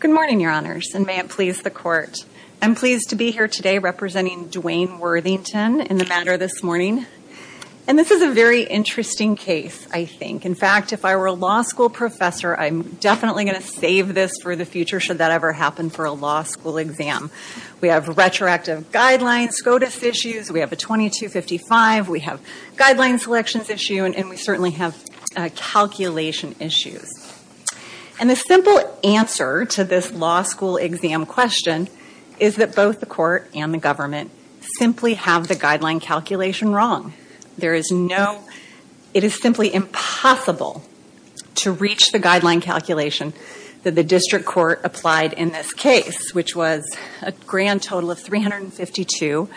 Good morning, your honors, and may it please the court. I'm pleased to be here today representing Duane Worthington in the matter this morning. And this is a very interesting case, I think. In fact, if I were a law school professor, I'm definitely going to save this for the future should that ever happen for a law school exam. We have retroactive guidelines, SCOTUS issues, we have a 2255, we have guideline selections issue, and we certainly have calculation issues. And the simple answer to this law school exam question is that both the court and the government simply have the guideline calculation wrong. It is simply impossible to reach the guideline calculation that the district court applied in this case, which was a grand total of 352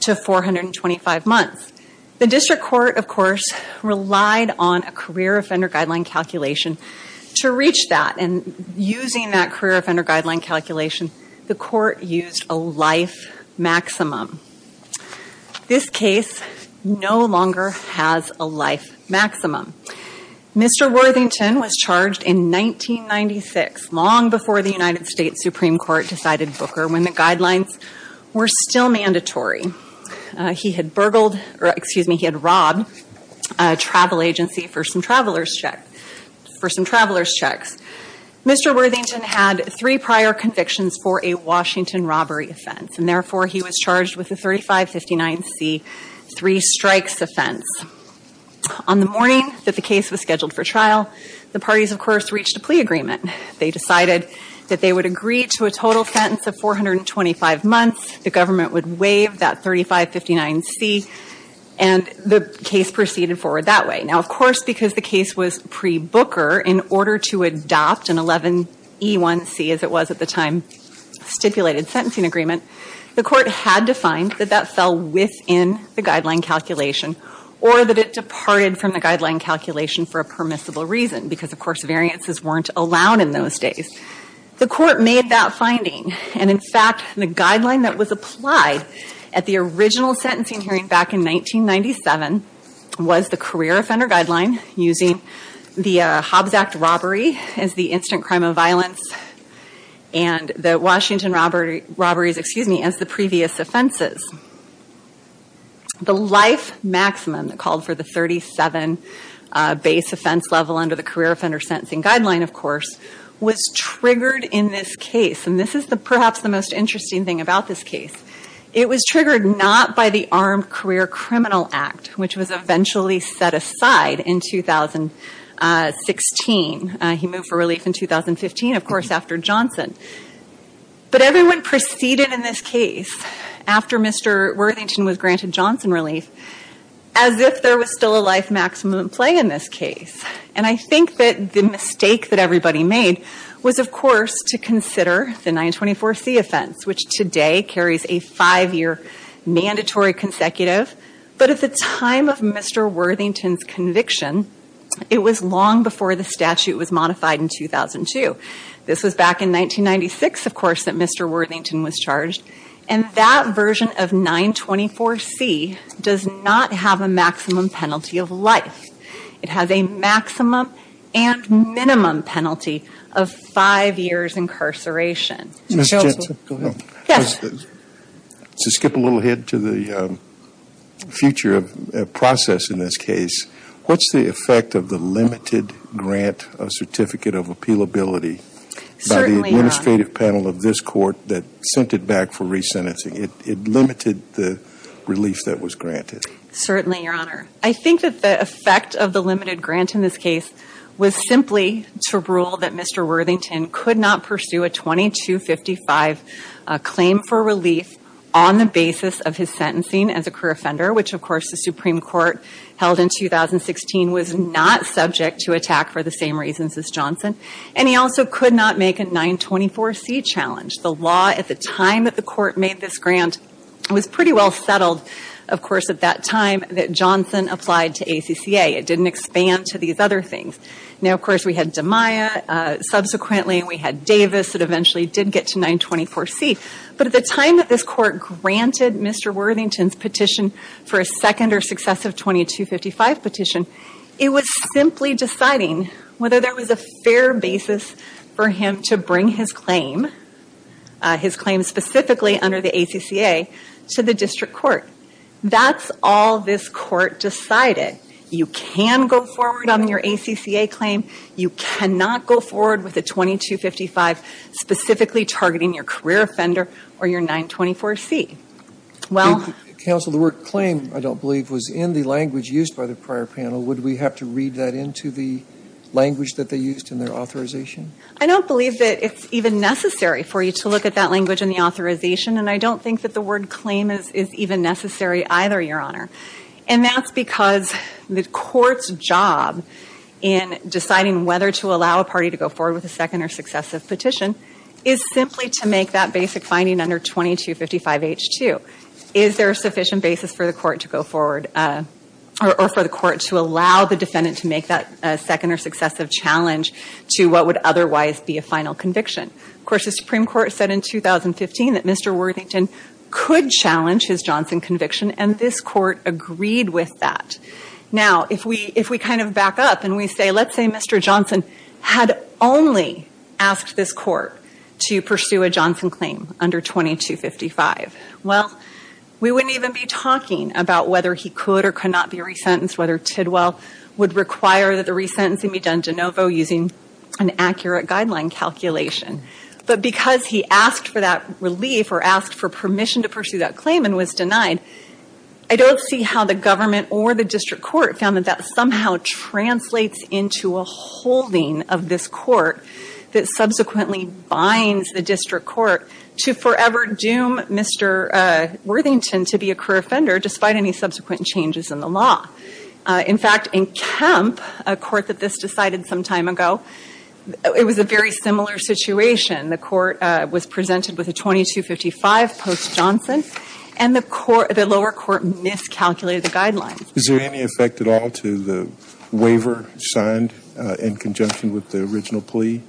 to 425 months. The district court, of course, relied on a career offender guideline calculation to reach that. And using that career offender guideline calculation, the court used a life maximum. This case no longer has a life maximum. Mr. Worthington was charged in 1996, long before the United States Supreme Court decided Booker, when the guidelines were still mandatory. He had burgled, or excuse me, he had robbed a for some travelers checks. Mr. Worthington had three prior convictions for a Washington robbery offense, and therefore he was charged with a 3559 C, three strikes offense. On the morning that the case was scheduled for trial, the parties of course reached a plea agreement. They decided that they would agree to a total sentence of 425 months, the government would waive that 3559 C, and the case proceeded forward that way. Now of course, because the case was pre-Booker, in order to adopt an 11E1C, as it was at the time, stipulated sentencing agreement, the court had to find that that fell within the guideline calculation, or that it departed from the guideline calculation for a permissible reason, because of course variances weren't allowed in those days. The court made that finding, and in fact, the guideline that was applied at the original sentencing hearing back in 1997, was the career offender guideline, using the Hobbs Act robbery as the instant crime of violence, and the Washington robberies, excuse me, as the previous offenses. The life maximum that called for the 37 base offense level under the career offender sentencing guideline, of course, was triggered in this case, and this is perhaps the most interesting thing about this case. It was triggered not by the Armed Career Criminal Act, which was eventually set aside in 2016. He moved for relief in 2015, of course, after Johnson. But everyone proceeded in this case, after Mr. Worthington was granted Johnson relief, as if there was still a life maximum at play in this case. And I think that the mistake that everybody made was, of course, to consider the 924C offense, which today carries a five-year mandatory consecutive. But at the time of Mr. Worthington's conviction, it was long before the statute was modified in 2002. This was back in 1996, of course, that Mr. Worthington was charged, and that version of 924C does not have a maximum penalty of life. It has a maximum and minimum penalty of five years incarceration. Ms. Jensen, go ahead. Yes. To skip a little ahead to the future process in this case, what's the effect of the limited grant of certificate of appealability by the administrative panel of this court that sent it back for re-sentencing? It limited the relief that was granted. Certainly, Your Honor. I think that the effect of the limited grant in this case was simply to rule that Mr. Worthington could not pursue a 2255 claim for relief on the basis of his sentencing as a career offender, which, of course, the Supreme Court held in 2016 was not subject to attack for the same reasons as Johnson. And he also could not make a 924C challenge. The law at the time that the court made this grant was pretty well settled, of course, at that time that Johnson applied to ACCA. It didn't expand to these other things. Now, of course, we had DeMaia. Subsequently, we had Davis that eventually did get to 924C. But at the time that this court granted Mr. Worthington's petition for a second or successive 2255 petition, it was simply deciding whether there was a fair basis for him to bring his claim, his claim specifically under the ACCA, to the district court. That's all this court decided. You can go forward on your ACCA claim. You cannot go forward with a 2255 specifically targeting your career offender or your 924C. Well... Counsel, the word claim, I don't believe, was in the language used by the prior panel. Would we have to read that into the language that they used in their authorization? I don't believe that it's even necessary for you to look at that language in the authorization. And I don't think that the word claim is even necessary either, Your Honor. And that's because the court's job in deciding whether to allow a party to go forward with a second or successive petition is simply to make that basic finding under 2255H2. Is there a sufficient basis for the court to go forward or for the court to allow the defendant to make that second or successive challenge to what would otherwise be a final conviction? Of course, the Supreme Court said in 2015 that Mr. Worthington could challenge his Johnson conviction and this court agreed with that. Now, if we kind of back up and we say, let's say Mr. Johnson had only asked this court to pursue a Johnson claim under 2255. Well, we wouldn't even be talking about whether he could or could not be resentenced, whether Tidwell would require that the resentencing be done de novo using an accurate guideline calculation. But because he asked for that relief or asked for permission to pursue that claim and was denied, I don't see how the government or the district court found that that somehow translates into a holding of this court that subsequently binds the district court to forever doom Mr. Worthington to be a career offender despite any subsequent changes in the law. In fact, in Kemp, a court that this decided some time ago, it was a very similar situation. The court was presented with a 2255 post-Johnson and the lower court miscalculated the guidelines. Is there any effect at all to the waiver signed in conjunction with the original plea?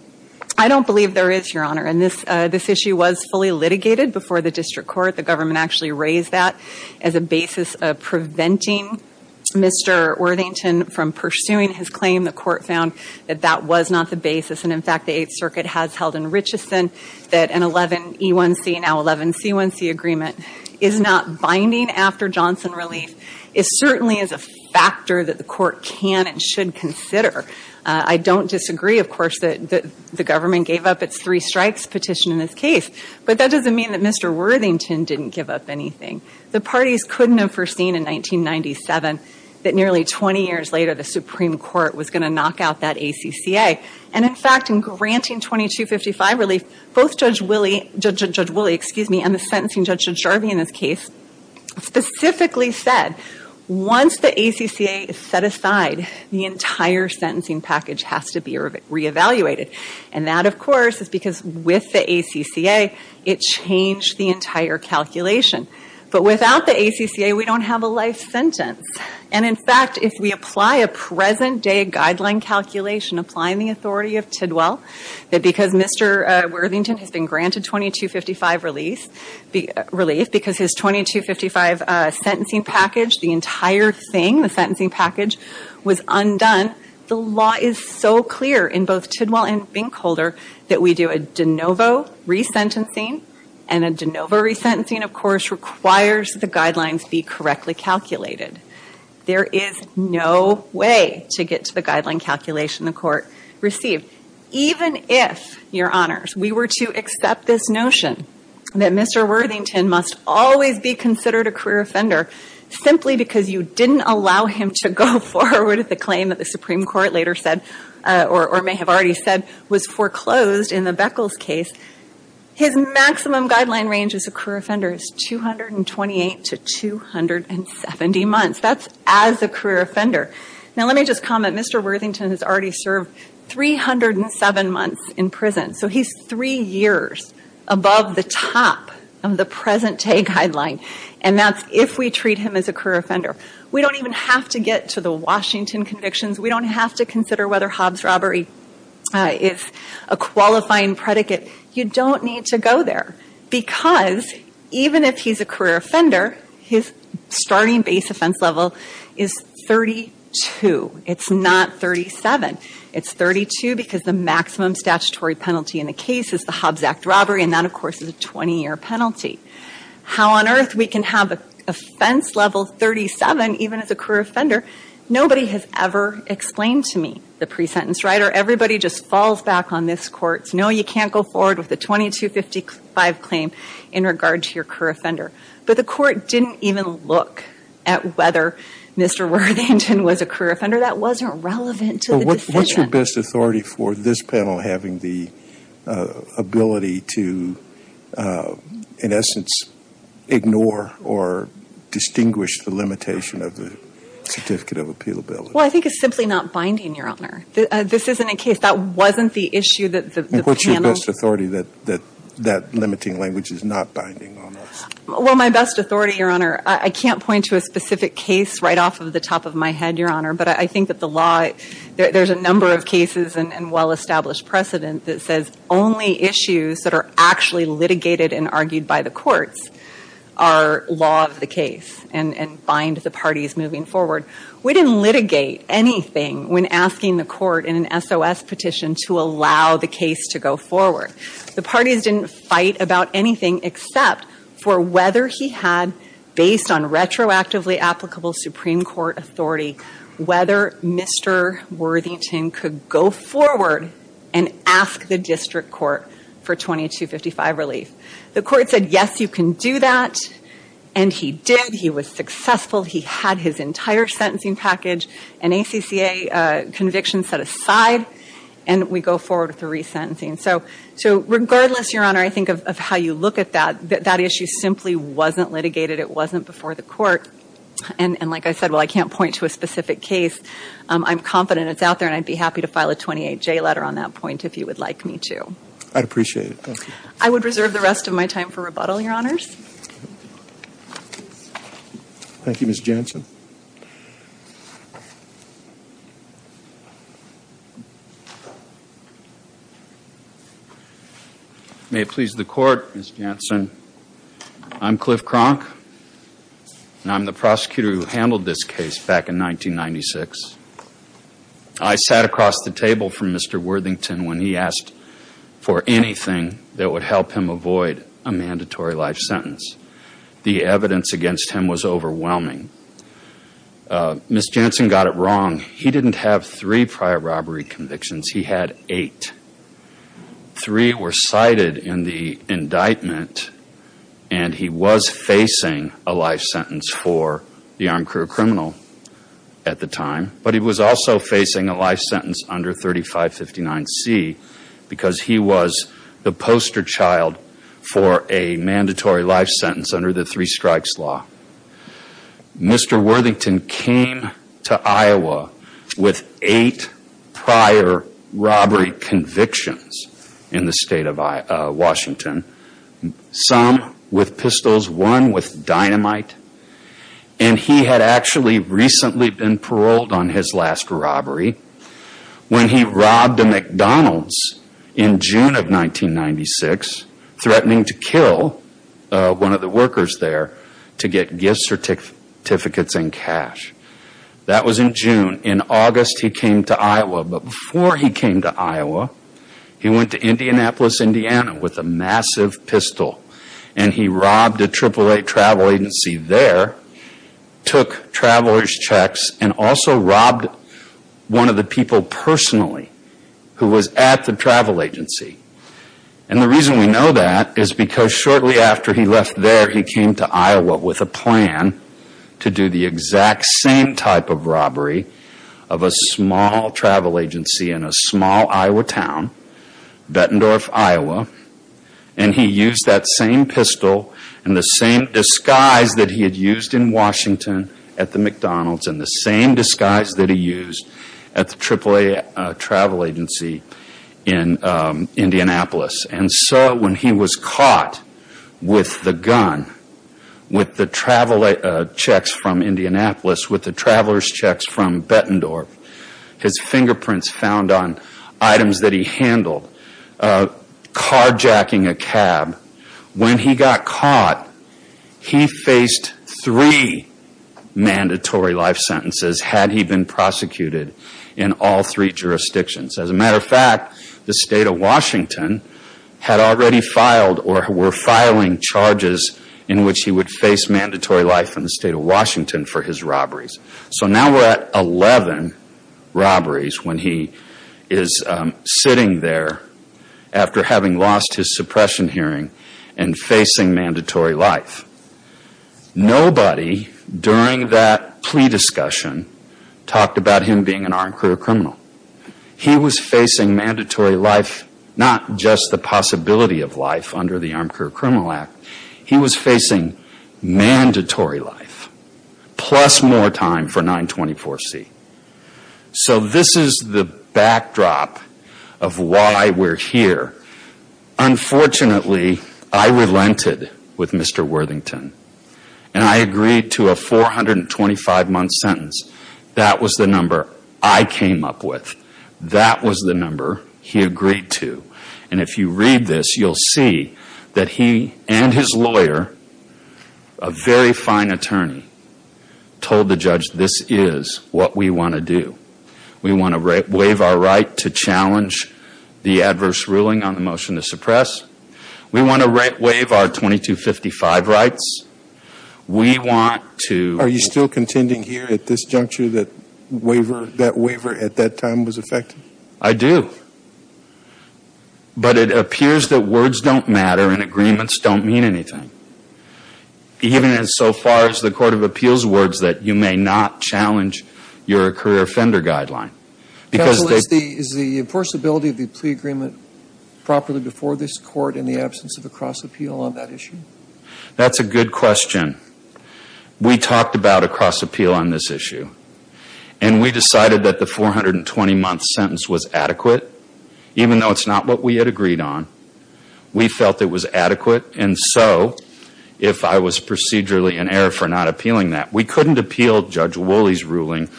I don't believe there is, Your Honor, and this issue was fully litigated before the Mr. Worthington from pursuing his claim. The court found that that was not the basis. And in fact, the Eighth Circuit has held in Richeson that an 11E1C, now 11C1C agreement, is not binding after Johnson relief. It certainly is a factor that the court can and should consider. I don't disagree, of course, that the government gave up its three strikes petition in this case, but that doesn't mean that Mr. Worthington didn't give up anything. The parties couldn't have foreseen in 1997 that nearly 20 years later the Supreme Court was going to knock out that ACCA. And in fact, in granting 2255 relief, both Judge Woolley and the sentencing judge, Judge Jarvie, in this case, specifically said once the ACCA is set aside, the entire sentencing package has to be re-evaluated. And that, of course, is because with the ACCA, it changed the entire calculation. But without the ACCA, we don't have a life sentence. And in fact, if we apply a present-day guideline calculation applying the authority of Tidwell, that because Mr. Worthington has been granted 2255 relief, because his 2255 sentencing package, the entire thing, the sentencing package, was undone, the law is so clear in both Tidwell and Binkholder that we do a de novo resentencing. And a de novo resentencing, of course, requires the guidelines be correctly calculated. There is no way to get to the guideline calculation the Court received. Even if, Your Honors, we were to accept this notion that Mr. Worthington must always be considered a career offender simply because you didn't allow him to go forward with the claim that the Supreme Court later said, or may have already said, was foreclosed in the Beckles case, his maximum guideline range as a career offender is 228 to 270 months. That's as a career offender. Now let me just comment. Mr. Worthington has already served 307 months in prison. So he's three years above the top of the present day guideline. And that's if we treat him as a career offender. We don't even have to get to the Washington convictions. We don't have to consider whether Hobbs robbery is a qualifying predicate. You don't need to go there. Because even if he's a career offender, his starting base offense level is 32. It's not 37. It's 32 because the maximum statutory penalty in the case is the Hobbs Act robbery. And that, of course, is a 20 year penalty. How on earth we can have offense level 37 even as a career offender? Nobody has ever explained to me the pre-sentence, right? Or everybody just falls back on this Court's, no, you can't go forward with a 2255 claim in regard to your career offender. But the Court didn't even look at whether Mr. Worthington was a career offender. What's your best authority for this panel having the ability to, in essence, ignore or distinguish the limitation of the Certificate of Appeal ability? Well, I think it's simply not binding, Your Honor. This isn't a case, that wasn't the issue that the panel... And what's your best authority that that limiting language is not binding on us? Well, my best authority, Your Honor, I can't point to a specific case right off of the There's a number of cases and well-established precedent that says only issues that are actually litigated and argued by the courts are law of the case and bind the parties moving forward. We didn't litigate anything when asking the Court in an SOS petition to allow the case to go forward. The parties didn't fight about anything except for whether he had, based on retroactively applicable Supreme Court authority, whether Mr. Worthington could go forward and ask the District Court for 2255 relief. The Court said, yes, you can do that, and he did. He was successful. He had his entire sentencing package and ACCA convictions set aside, and we go forward with the resentencing. So regardless, Your Honor, I think of how you look at that, that issue simply wasn't litigated. It wasn't before the Court. And like I said, well, I can't point to a specific case. I'm confident it's out there, and I'd be happy to file a 28J letter on that point if you would like me to. I'd appreciate it. Thank you. I would reserve the rest of my time for rebuttal, Your Honors. Thank you, Ms. Jansen. May it please the Court, Ms. Jansen. I'm Cliff Cronk, and I'm the prosecutor who handled this case back in 1996. I sat across the table from Mr. Worthington when he asked for anything that would help him avoid a mandatory life sentence. The evidence against him was overwhelming. Ms. Jansen got it wrong. He didn't have three prior robbery convictions. He had eight. Three were cited in the indictment, and he was facing a life sentence for the armed crew criminal at the time, but he was also facing a life sentence under 3559C because he was the poster child for a mandatory life sentence under the three strikes law. Mr. Worthington came to Iowa with eight prior robbery convictions in the state of Washington. Some with pistols, one with dynamite, and he had actually recently been paroled on his last robbery when he robbed a McDonald's in June of 1996, threatening to kill one of the workers there to get gift certificates and cash. That was in June. In August, he came to Iowa, but before he came to Iowa, he went to Indianapolis, Indiana with a massive pistol, and he robbed a triple-A travel agency there, took traveler's checks, and also robbed one of the people personally who was at the travel agency. The reason we know that is because shortly after he left there, he came to Iowa with a plan to do the exact same type of robbery of a small travel agency in a small Iowa town, Bettendorf, Iowa, and he used that same pistol and the same disguise that he had used in Washington at the McDonald's and the same disguise that he used at the triple-A travel agency in Indianapolis. When he was caught with the gun, with the traveler's checks from Indianapolis, with the traveler's checks from Bettendorf, his fingerprints found on items that he handled, carjacking a cab, when he got caught, he faced three mandatory life sentences had he been already filed or were filing charges in which he would face mandatory life in the state of Washington for his robberies. So now we're at 11 robberies when he is sitting there after having lost his suppression hearing and facing mandatory life. Nobody during that plea discussion talked about him being an impossibility of life under the Armed Career Criminal Act. He was facing mandatory life plus more time for 924C. So this is the backdrop of why we're here. Unfortunately, I relented with Mr. Worthington and I agreed to a 425-month sentence. That was the number I came up with. That was the number I came up with. If you read this, you'll see that he and his lawyer, a very fine attorney, told the judge this is what we want to do. We want to waive our right to challenge the adverse ruling on the motion to suppress. We want to waive our 2255 rights. We want to... Are you still contending here at this juncture that that waiver at that time was effective? I do. But it appears that words don't matter and agreements don't mean anything. Even so far as the Court of Appeals' words that you may not challenge your career offender guideline. Counsel, is the enforceability of the plea agreement properly before this Court in the absence of a cross-appeal on that issue? That's a good question. We talked about a cross-appeal on this issue. And we decided that the 420-month sentence was adequate, even though it's not what we had agreed on. We felt it was adequate. And so, if I was procedurally in error for not appealing that, we couldn't appeal Judge Woolley's ruling.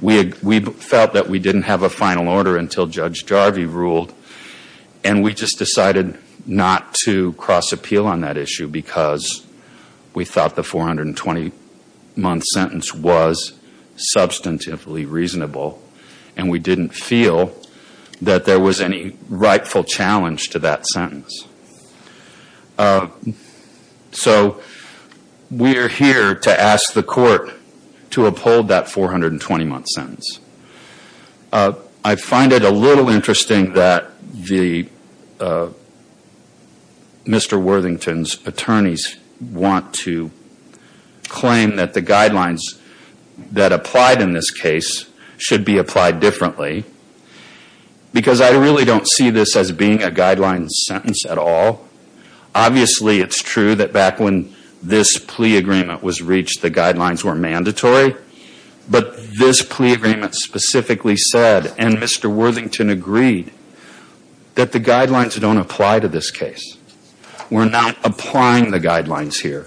We felt that we didn't have a final order until Judge Jarvie ruled. And we just decided not to cross-appeal on that issue because we thought the 420-month sentence was substantively reasonable. And we didn't feel that there was any rightful challenge to that sentence. So, we're here to ask the Court to uphold that 420-month sentence. I find it a little strange that Mr. Worthington's attorneys want to claim that the guidelines that applied in this case should be applied differently, because I really don't see this as being a guideline sentence at all. Obviously, it's true that back when this plea agreement was reached, the guidelines were mandatory. But this plea agreement specifically said, and we're not applying the guidelines here.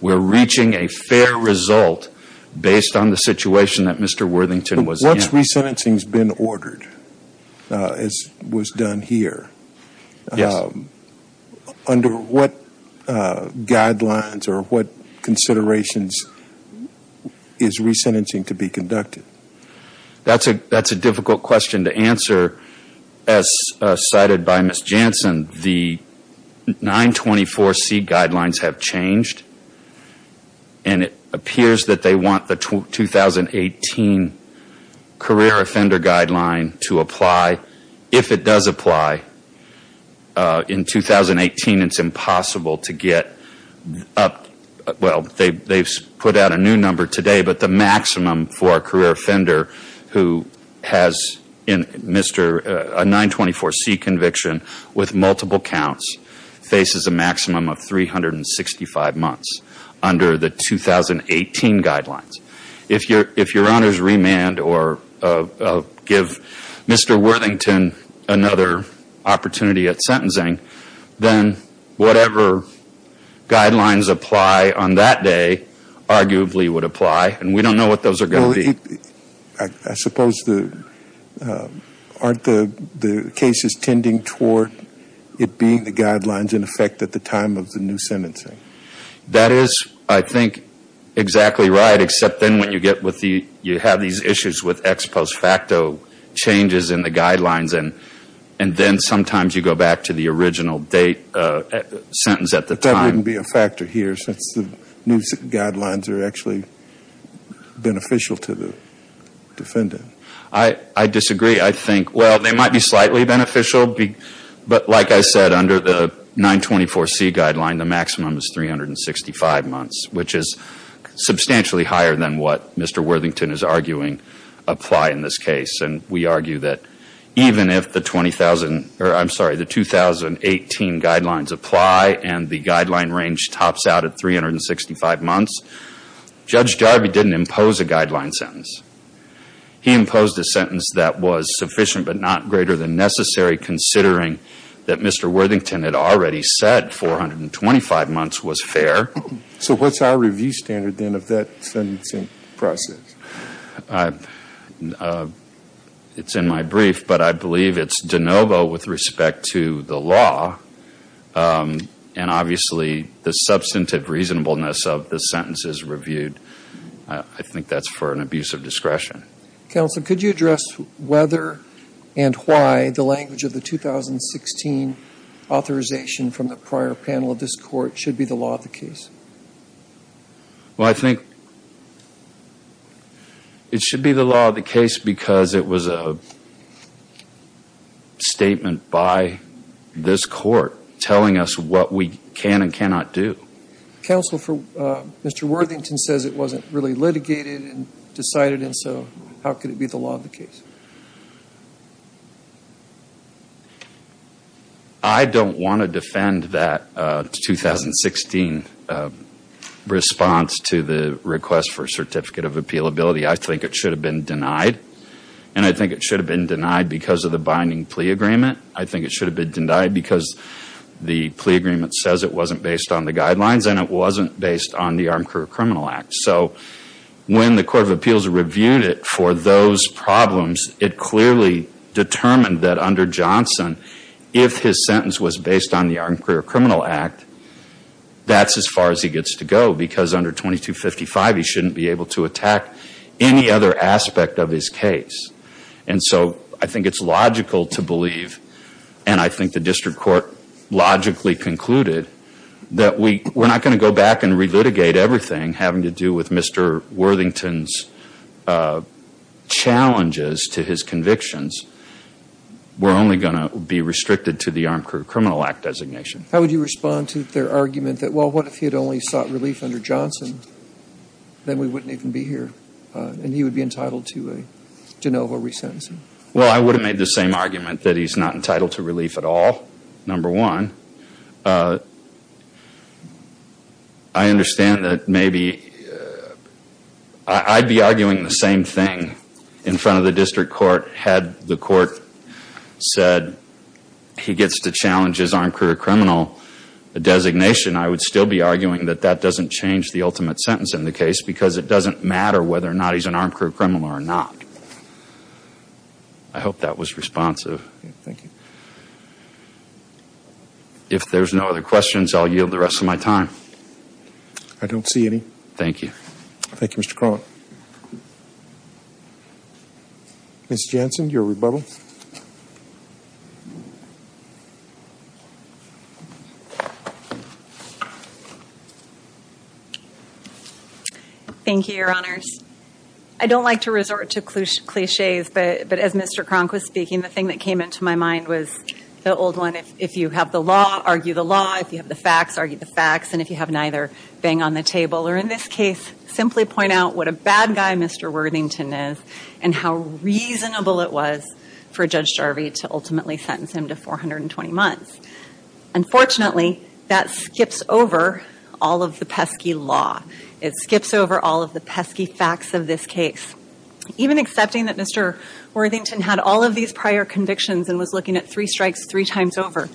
We're reaching a fair result based on the situation that Mr. Worthington was in. But what's resentencing's been ordered, as was done here? Yes. Under what guidelines or what considerations is resentencing to be conducted? That's a difficult question to answer. As cited by Ms. Jansen, the 924C guidelines have changed. And it appears that they want the 2018 career offender guideline to apply. If it does apply in 2018, it's impossible to get up. Well, they've put out a new number today, but the maximum for a career offender who has a 924C conviction with multiple counts faces a maximum of 365 months under the 2018 guidelines. If your honors remand or give Mr. Worthington another opportunity at sentencing, then whatever guidelines apply on that day arguably would apply. And we don't know what those are going to be. I suppose aren't the cases tending toward it being the guidelines in effect at the time of the new sentencing? That is, I think, exactly right, except then when you have these issues with ex post facto changes in the guidelines. And then sometimes you go back to the original sentence at the time. So there wouldn't be a factor here since the new guidelines are actually beneficial to the defendant? I disagree. I think, well, they might be slightly beneficial. But like I said, under the 924C guideline, the maximum is 365 months, which is substantially higher than what Mr. Worthington is arguing apply in this case. And we argue that even if the 2018 guidelines apply and the guideline range tops out at 365 months, Judge Jarvie didn't impose a guideline sentence. He imposed a sentence that was sufficient but not greater than necessary considering that Mr. Worthington had already said 425 months was fair. So what's our review standard then of that sentencing process? It's in my brief, but I believe it's de novo with respect to the law. And obviously the substantive reasonableness of the sentences reviewed, I think that's for an abuse of discretion. Counsel, could you address whether and why the language of the 2016 authorization from the prior panel of this Court should be the law of the case? Well, I think it should be the law of the case because it was a statement by this Court telling us what we can and cannot do. Counsel, Mr. Worthington says it wasn't really litigated and decided, and so how could it be the law of the case? I don't want to defend that 2016 response to the request for a certificate of appealability. I think it should have been denied, and I think it should have been denied because of the binding plea agreement. I think it should have been denied because the plea agreement says it wasn't based on the guidelines and it wasn't based on the Armed Career Criminal Act. So when the Court of Appeals reviewed it for those problems, it clearly determined that under Johnson, if his sentence was based on the Armed Career Criminal Act, that's as far as he gets to go because under 2255 he shouldn't be able to attack any other aspect of his case. And so I think it's logical to believe, and I think the District Court logically concluded, that we're not going to go back and re-litigate everything having to do with Mr. Worthington's challenges to his convictions. We're only going to be restricted to the Armed Career Criminal Act designation. How would you respond to their argument that, well, what if he had only sought relief under Johnson? Then we wouldn't even be here, and he would be entitled to a de novo resentencing? Well, I would have made the same argument that he's not entitled to relief at all, number one. I understand that maybe I'd be arguing the same thing in front of the District Court had the Court said he gets to challenge his armed career criminal designation. I would still be arguing that that doesn't change the ultimate sentence in the case because it doesn't matter whether or not he's an armed career criminal or not. I hope that was responsive. If there's no other questions, I'll yield the rest of my time. I don't see any. Thank you. Thank you, Mr. Cronin. Ms. Jansen, your rebuttal. Thank you, Your Honors. I don't like to resort to cliches, but as Mr. Cronk was speaking, the thing that came into my mind was the old one, if you have the law, argue the law. If you have the facts, argue the facts. If you have neither, bang on the table. Or in this case, simply point out what a bad guy Mr. Worthington is and how reasonable it was for Judge Jarvie to ultimately sentence him to 420 months. Unfortunately, that skips over all of the pesky law. It skips over all of the pesky facts of this case. Even accepting that Mr. Worthington had all of these prior convictions and was looking at three strikes three times over,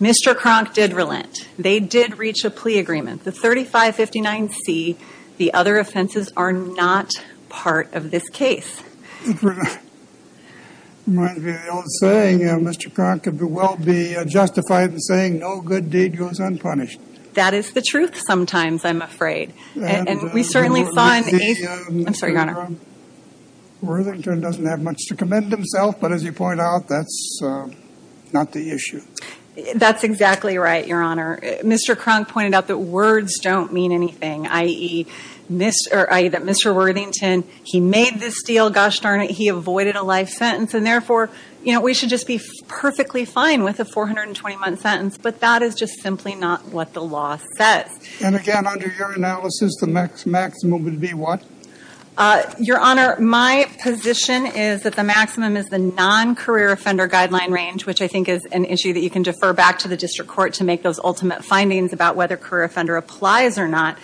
Mr. Cronk did relent. They did reach a plea agreement. The 3559C, the other offenses, are not part of this case. Reminds me of the old saying, Mr. Cronk, if you will, be justified in saying no good deed goes unpunished. That is the truth sometimes, I'm afraid. We certainly saw in a... I'm sorry, Your Honor. Worthington doesn't have much to commend himself, but as you point out, that's not the issue. That's exactly right, Your Honor. Mr. Cronk pointed out that words don't mean anything, i.e. that Mr. Worthington, he made this deal, gosh darn it, he avoided a life sentence, and therefore, we should just be perfectly fine with a 420 month sentence, but that is just simply not what the law says. Again, under your analysis, the maximum would be what? Your Honor, my position is that the maximum is the non-career offender guideline range, which I think is an issue that you can defer back to the district court to make those ultimate findings about whether career offender applies or not.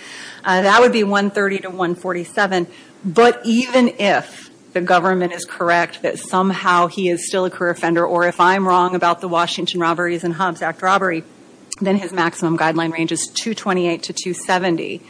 That would be 130 to 147, but even if the government is correct that somehow he is still a career offender, or if I'm wrong about the Washington Robberies and Hobbs Act robbery, then his maximum guideline range is 228 to 270.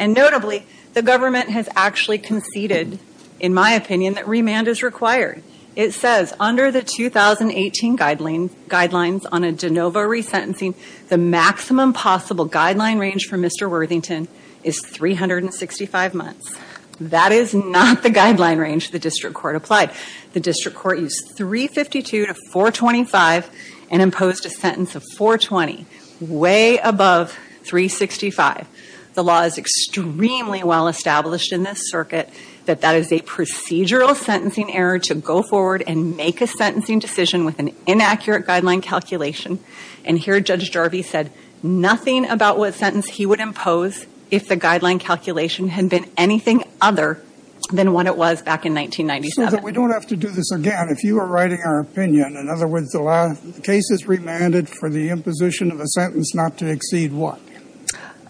Notably, the government has actually conceded, in my opinion, that remand is required. It says under the 2018 guidelines on a de novo resentencing, the maximum possible guideline range for Mr. Worthington is 365 months. That is not the guideline range the district court applied. The district court used 352 to 425 and imposed a sentence of 420, way above 365. The law is extremely well established in this circuit that that is a procedural sentencing error to go forward and make a sentencing decision with an inaccurate guideline calculation. And here Judge Jarvie said nothing about what sentence he would impose if the guideline calculation had been anything other than what it was back in 1997. We don't have to do this again. If you are writing our opinion, in other words, the case is remanded for the imposition of a sentence not to exceed what?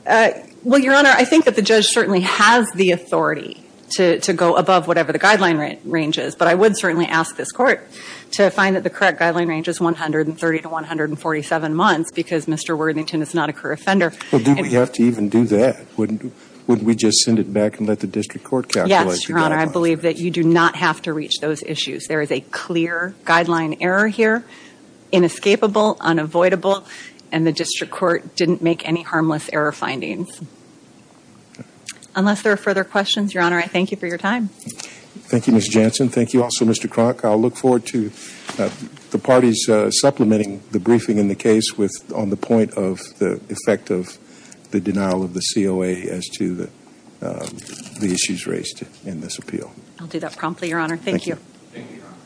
Well, Your Honor, I think that the judge certainly has the authority to go above whatever the sentence is, but I would certainly ask this court to find that the correct guideline range is 130 to 147 months because Mr. Worthington is not a career offender. Well, do we have to even do that? Wouldn't we just send it back and let the district court calculate the guidelines? Yes, Your Honor. I believe that you do not have to reach those issues. There is a clear guideline error here, inescapable, unavoidable, and the district court didn't make any harmless error findings. Unless there are further questions, Your Honor, I thank you for your time. Thank you, Ms. Jansen. Thank you also, Mr. Kronk. I'll look forward to the parties supplementing the briefing in the case on the point of the effect of the denial of the COA as to the issues raised in this appeal. I'll do that promptly, Your Honor. Thank you. Thank you, Your Honor.